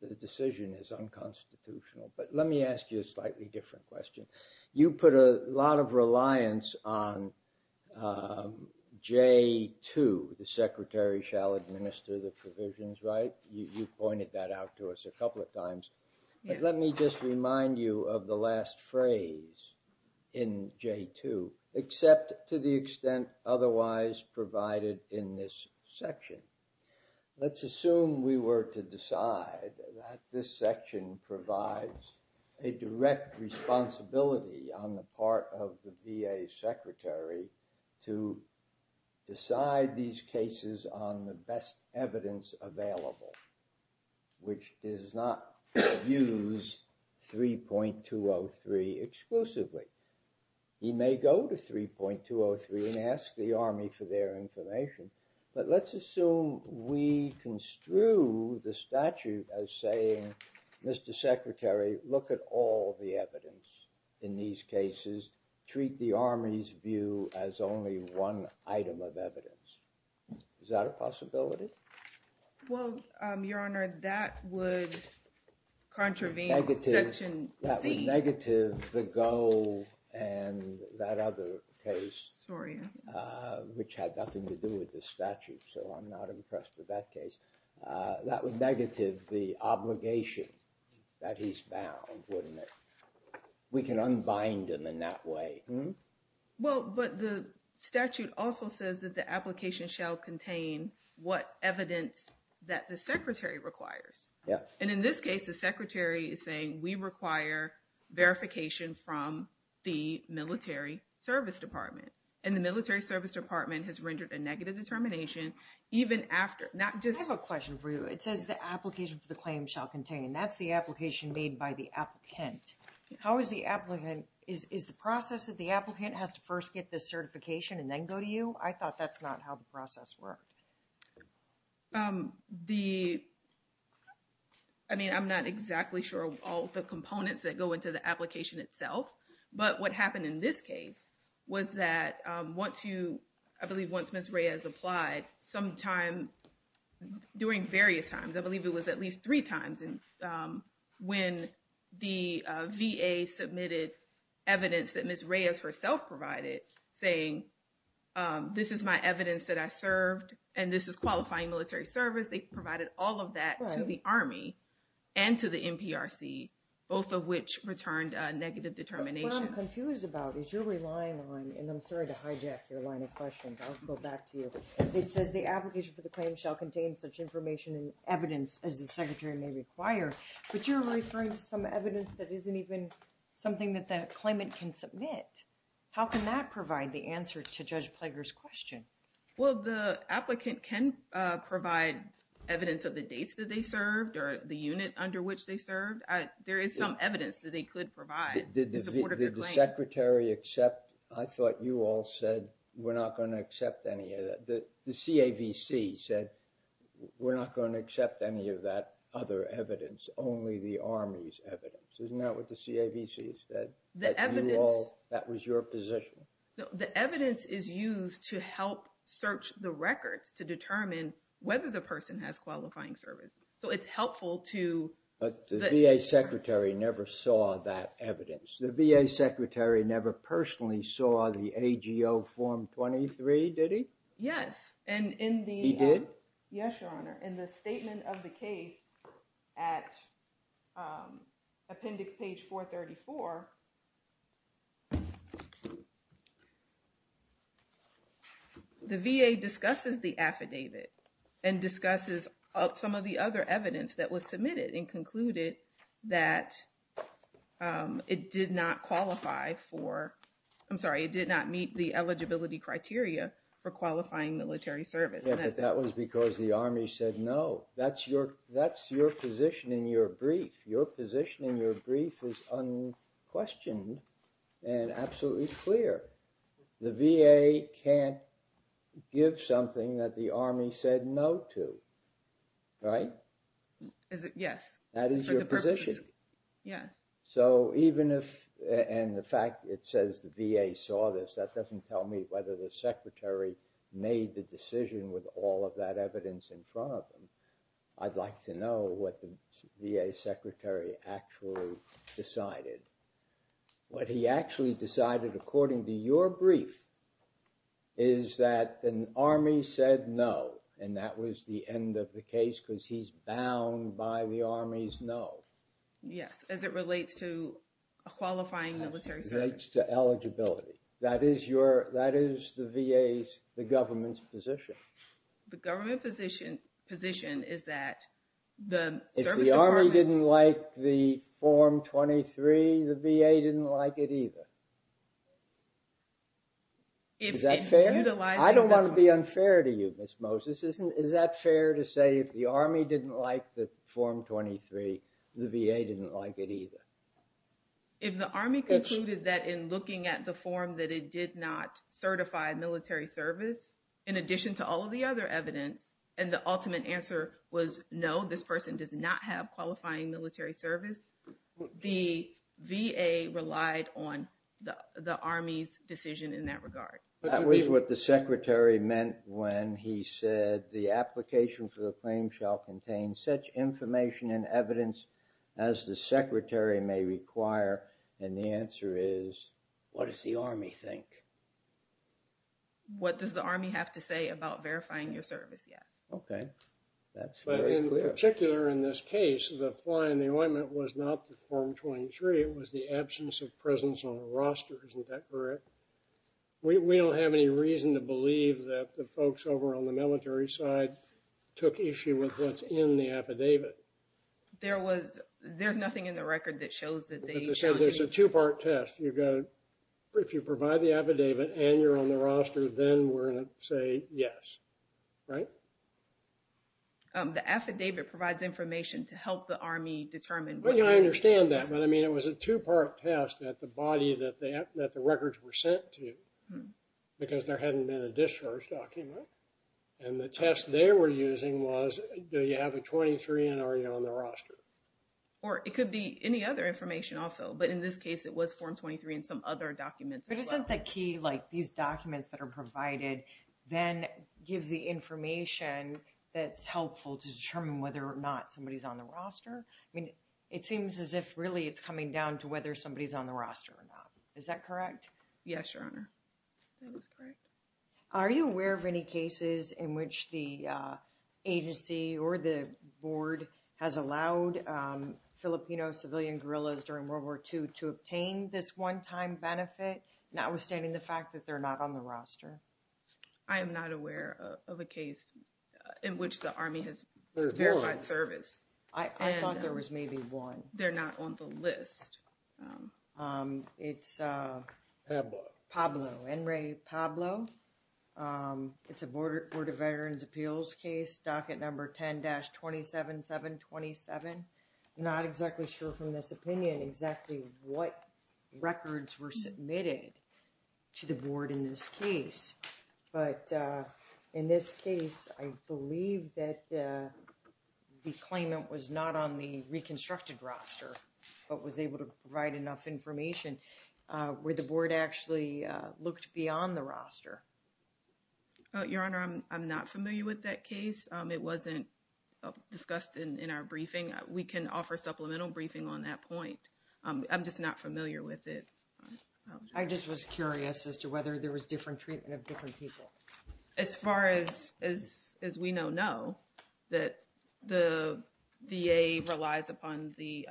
the decision is unconstitutional. But let me ask you a slightly different question. You put a lot of reliance on J-2, the secretary shall administer the provisions, right? You pointed that out to us a couple of times. But let me just remind you of the last phrase in J-2, except to the extent otherwise provided in this section. Let's assume we were to decide that this section provides a direct responsibility on the part of the VA secretary to decide these cases on the best evidence available, which does not use 3.203 exclusively. He may go to 3.203 and ask the Army for their information, but let's assume we construe the statute as saying, Mr. Secretary, look at all the evidence in these cases, treat the Army's view as only one item of evidence. Is that a possibility? Well, Your Honor, that would contravene section C. Negative the goal and that other case, which had nothing to do with the statute, so I'm not impressed with that case. That would negative the obligation that he's bound, wouldn't it? We can unbind him in that way, hmm? Well, but the statute also says that the application shall contain what evidence that the secretary requires. And in this case, the secretary is saying we require verification from the military service department. And the military service department has rendered a negative determination even after, not just- I have a question for you. It says the application for the claim shall contain. That's the application made by the applicant. How is the applicant, is the process that the applicant has to first get the certification and then go to you? I thought that's not how the process worked. The, I mean, I'm not exactly sure all the components that go into the application itself, but what happened in this case was that once you, I believe once Ms. Reyes applied, sometime during various times, I believe it was at least three times when the VA submitted evidence that Ms. Reyes herself provided, saying this is my evidence that I served and this is qualifying military service. They provided all of that to the Army and to the NPRC, both of which returned a negative determination. What I'm confused about is you're relying on, and I'm sorry to hijack your line of questions. I'll go back to you. It says the application for the claim shall contain such information and evidence as the secretary may require, but you're referring to some evidence that isn't even something that the claimant can submit. How can that provide the answer to Judge Plager's question? Well, the applicant can provide evidence of the dates that they served or the unit under which they served. There is some evidence that they could provide in support of the claim. Did the secretary accept, I thought you all said, we're not gonna accept any of that. The CAVC said, we're not gonna accept any of that other evidence, only the Army's evidence. Isn't that what the CAVC has said? The evidence- That was your position. The evidence is used to help search the records to determine whether the person has qualifying services. So it's helpful to- But the VA secretary never saw that evidence. The VA secretary never personally saw the AGO Form 23, did he? Yes, and in the- He did? Yes, Your Honor. In the statement of the case at Appendix Page 434, the VA discusses the affidavit and discusses some of the other evidence that was submitted and concluded that it did not qualify for, I'm sorry, it did not meet the eligibility criteria for qualifying military service. Yeah, but that was because the Army said, no, that's your position in your brief. Your position in your brief is unquestioned and absolutely clear. The VA can't give something that the Army said no to, right? Yes. That is your position. Yes. So even if, and the fact it says the VA saw this, that doesn't tell me whether the secretary made the decision with all of that evidence in front of him. I'd like to know what the VA secretary actually decided. What he actually decided according to your brief is that an Army said no, and that was the end of the case because he's bound by the Army's no. Yes, as it relates to qualifying military service. As it relates to eligibility. That is the VA's, the government's position. The government position is that the service department- If the Army didn't like the Form 23, the VA didn't like it either. Is that fair? I don't want to be unfair to you, Ms. Moses. Is that fair to say if the Army didn't like the Form 23, the VA didn't like it either? If the Army concluded that in looking at the form that it did not certify military service, in addition to all of the other evidence, and the ultimate answer was no, this person does not have qualifying military service, the VA relied on the Army's decision in that regard. That was what the secretary meant when he said, the application for the claim shall contain such information and evidence as the secretary may require. And the answer is, what does the Army think? What does the Army have to say about verifying your service? Yes. Okay. But in particular, in this case, the fly in the ointment was not the Form 23. It was the absence of presence on the roster. Isn't that correct? We don't have any reason to believe that the folks over on the military side took issue with what's in the affidavit. There was, there's nothing in the record that shows that they- Like I said, there's a two-part test. You've got to, if you provide the affidavit and you're on the roster, then we're going to say yes. Right? The affidavit provides information to help the Army determine- Well, I understand that, but I mean, it was a two-part test at the body that the records were sent to, because there hadn't been a discharge document. And the test they were using was, do you have a 23 and are you on the roster? Or it could be any other information also, but in this case, it was Form 23 and some other documents as well. But isn't the key, like these documents that are provided, then give the information that's helpful to determine whether or not somebody's on the roster? I mean, it seems as if really it's coming down to whether somebody's on the roster or not. Is that correct? Yes, Your Honor, that is correct. Are you aware of any cases in which the agency or the board has allowed Filipino civilian guerrillas during World War II to obtain this one-time benefit, notwithstanding the fact that they're not on the roster? I am not aware of a case in which the Army has verified service. I thought there was maybe one. They're not on the list. It's Pablo, Enrique Pablo. It's a Board of Veterans' Appeals case, docket number 10-27727. Not exactly sure from this opinion exactly what records were submitted to the board in this case. But in this case, I believe that the claimant was not on the reconstructed roster, but was able to provide enough information where the board actually looked beyond the roster. Your Honor, I'm not familiar with that case. It wasn't discussed in our briefing. We can offer supplemental briefing on that point. I'm just not familiar with it. I just was curious as to whether there was different treatment of different people. As far as we know, no, that the VA relies upon the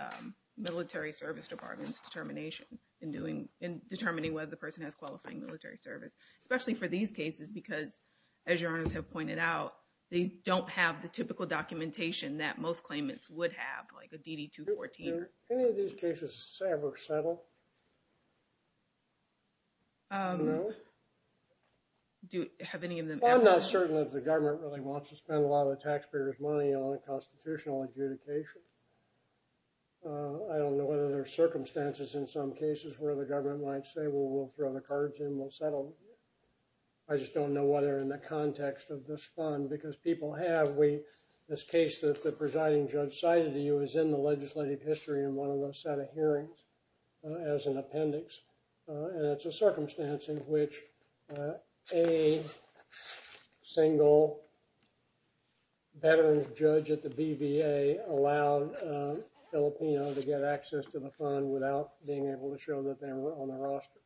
military service department's determination in determining whether the person has qualifying military service, especially for these cases, because as Your Honors have pointed out, they don't have the typical documentation that most claimants would have, like a DD-214. Do any of these cases ever settle? Do you have any of them ever? Well, I'm not certain if the government really wants to spend a lot of taxpayers' money on a constitutional adjudication. I don't know whether there are circumstances in some cases where the government might say, well, we'll throw the cards in, we'll settle. I just don't know whether in the context of this fund, because people have this case that the presiding judge cited to you is in the legislative history in one of those set of hearings as an appendix. And it's a circumstance in which a single veterans judge at the BVA allowed a Filipino to get access to the fund without being able to show that they were on the roster.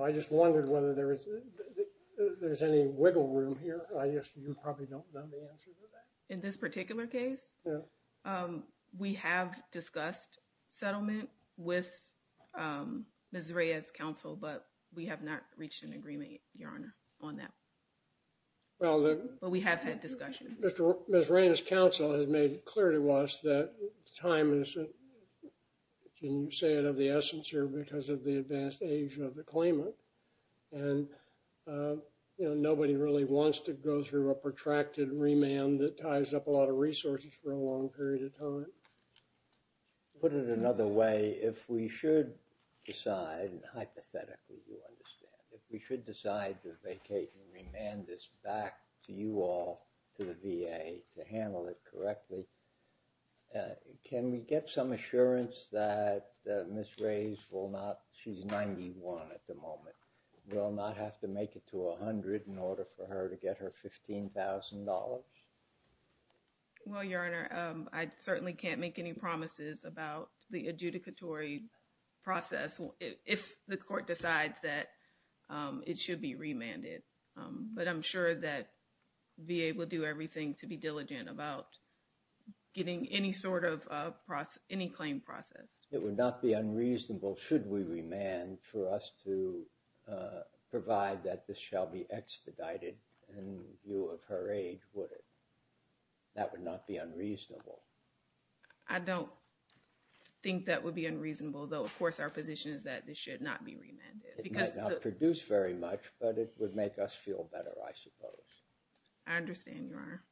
I just wondered whether there's any wiggle room here. I guess you probably don't know the answer to that. In this particular case, we have discussed settlement with Ms. Reyes' counsel, but we have not reached an agreement, Your Honor, on that. But we have had discussion. Ms. Reyes' counsel has made it clear to us that the time is, can you say it of the essence here, because of the advanced age of the claimant. And nobody really wants to go through a protracted remand that ties up a lot of resources for a long period of time. Put it another way, if we should decide, and hypothetically you understand, if we should decide to vacate and remand this back to you all, to the VA, to handle it correctly, can we get some assurance that Ms. Reyes will not, she's 91 at the moment, will not have to make it to 100 in order for her to get her $15,000? Well, Your Honor, I certainly can't make any promises about the adjudicatory process if the court decides that it should be remanded. But I'm sure that VA will do everything to be diligent about getting any sort of, any claim processed. It would not be unreasonable, should we remand, for us to provide that this shall be expedited in view of her age, would it? That would not be unreasonable. I don't think that would be unreasonable, though of course our position is that this should not be remanded. It might not produce very much, but it would make us feel better, I suppose. I understand, Your Honor.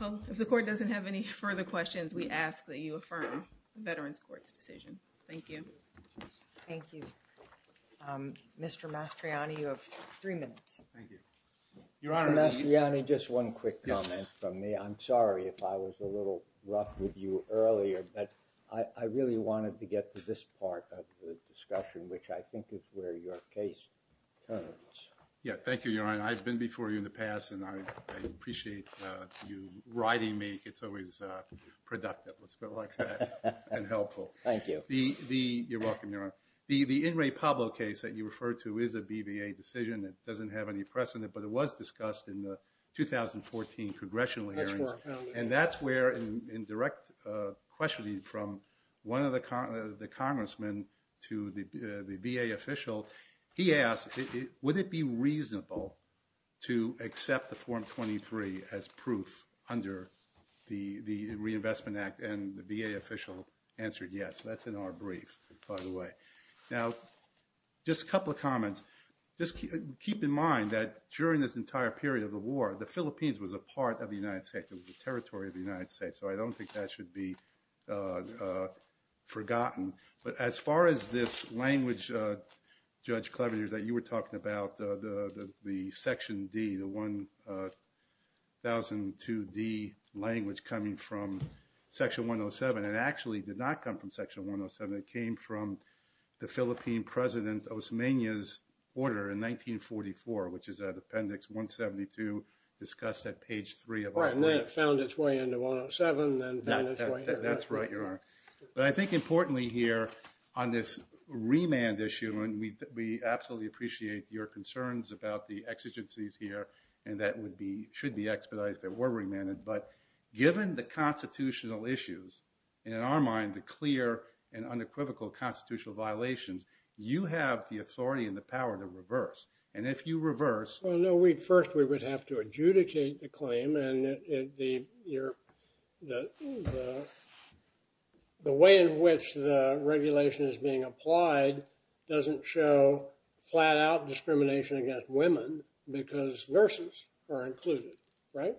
Well, if the court doesn't have any further questions, we ask that you affirm the Veterans Court's decision. Thank you. Thank you. Mr. Mastriani, you have three minutes. Thank you. Your Honor. Mr. Mastriani, just one quick comment from me. I'm sorry if I was a little rough with you earlier, but I really wanted to get to this part of the discussion, which I think is where your case turns. Yeah, thank you, Your Honor. I've been before you in the past, and I appreciate you riding me. It's always productive, let's put it like that, and helpful. Thank you. You're welcome, Your Honor. The In re Pablo case that you referred to is a BVA decision. It doesn't have any precedent, but it was discussed in the 2014 congressional hearings, and that's where, in direct questioning from one of the congressmen to the VA official, he asked, would it be reasonable to accept the Form 23 as proof under the Reinvestment Act, and the VA official answered yes. That's in our brief, by the way. Now, just a couple of comments. Just keep in mind that during this entire period of the war, the Philippines was a part of the United States. It was a territory of the United States, so I don't think that should be forgotten, but as far as this language, Judge Cleaver, you were talking about the Section D, the 1002D language coming from Section 107, and it actually did not come from Section 107. It came from the Philippine President Osmeña's order in 1944, which is at Appendix 172, discussed at page three of our brief. Right, and then it found its way into 107, then found its way here. That's right, Your Honor. But I think importantly here, on this remand issue, we absolutely appreciate your concerns about the exigencies here, and that should be expedited, but we're remanded, but given the constitutional issues, and in our mind, the clear and unequivocal constitutional violations, you have the authority and the power to reverse, and if you reverse- Well, no, first we would have to adjudicate the claim, and the way in which the regulation is being applied doesn't show flat-out discrimination against women because nurses are included, right?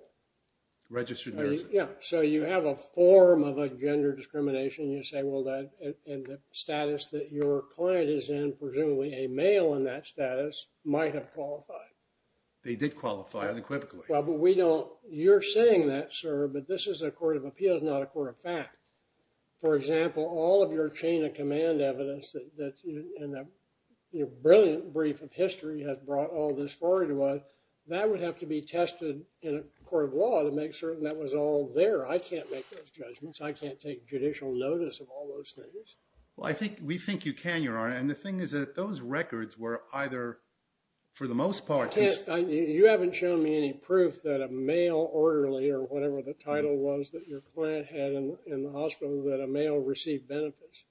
Registered nurses. Yeah, so you have a form of a gender discrimination. You say, well, that, and the status that your client is in, presumably a male in that status, might have qualified. They did qualify unequivocally. Well, but we don't, you're saying that, sir, but this is a court of appeals, not a court of fact. For example, all of your chain-of-command evidence and that brilliant brief of history has brought all this forward to us. That would have to be tested in a court of law to make certain that was all there. I can't make those judgments. I can't take judicial notice of all those things. Well, I think, we think you can, Your Honor, and the thing is that those records were either, for the most part- I can't, you haven't shown me any proof that a male orderly, or whatever the title was that your client had in the hospital, that a male received benefits.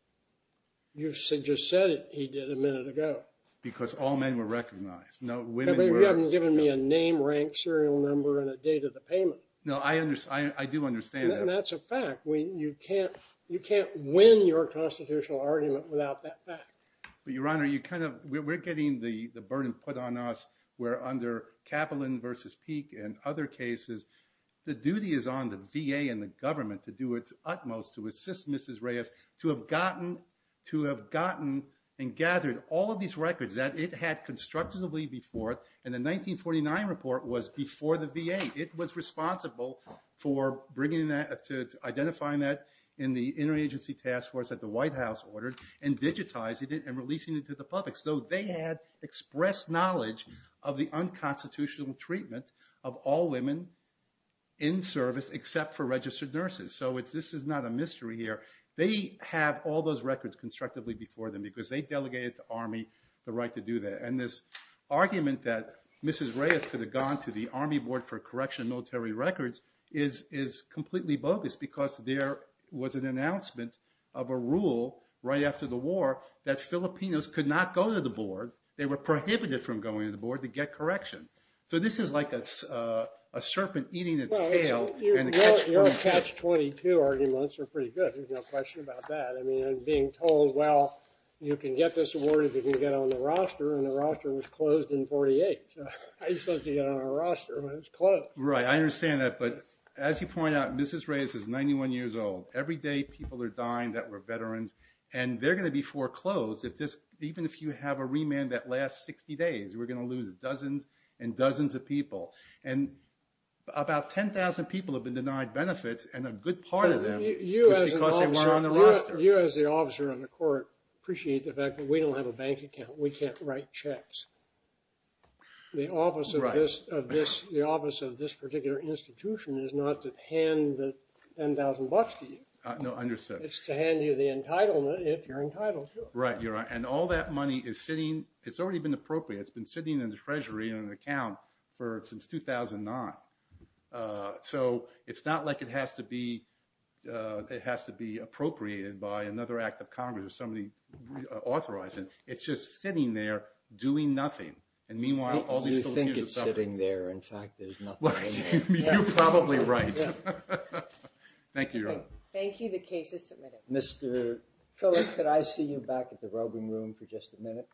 You just said it, he did a minute ago. Because all men were recognized. No, women were- You haven't given me a name, rank, serial number, and a date of the payment. No, I understand, I do understand that. And that's a fact. We, you can't, you can't win your constitutional argument without that fact. But, Your Honor, you kind of, we're getting the burden put on us where under Kaplan versus Peek and other cases, the duty is on the VA and the government to do its utmost to assist Mrs. Reyes to have gotten, to have gotten and gathered all of these records that it had constructively before, and the 1949 report was before the VA. It was responsible for bringing that, identifying that in the interagency task force that the White House ordered, and digitizing it and releasing it to the public. So they had expressed knowledge of the unconstitutional treatment of all women in service except for registered nurses. So it's, this is not a mystery here. They have all those records constructively before them because they delegated to Army the right to do that. And this argument that Mrs. Reyes could have gone to the Army Board for Correctional Military Records is completely bogus because there was an announcement of a rule right after the war that Filipinos could not go to the board. They were prohibited from going to the board to get correction. So this is like a serpent eating its tail. Your catch-22 arguments are pretty good. There's no question about that. I mean, I'm being told, well, you can get this award if you can get on the roster, and the roster was closed in 48. So how are you supposed to get on a roster when it's closed? Right, I understand that, but as you point out, Mrs. Reyes is 91 years old. Every day people are dying that were veterans, and they're gonna be foreclosed if this, even if you have a remand that lasts 60 days, we're gonna lose dozens and dozens of people. And about 10,000 people have been denied benefits, and a good part of them is because they weren't on the roster. You, as the officer on the court, appreciate the fact that we don't have a bank account. We can't write checks. The office of this particular institution is not to hand the 10,000 bucks to you. No, understood. It's to hand you the entitlement if you're entitled to it. Right, you're right, and all that money is sitting, it's already been appropriate. It's been sitting in the treasury in an account since 2009, so it's not like it has to be appropriated by another act of Congress or somebody authorizing it. It's just sitting there doing nothing, and meanwhile, all these little kids are suffering. You think it's sitting there. In fact, there's nothing in there. Well, you're probably right. Thank you, Your Honor. Thank you, the case is submitted. Mr. Phillips, could I see you back at the roving room for just a minute?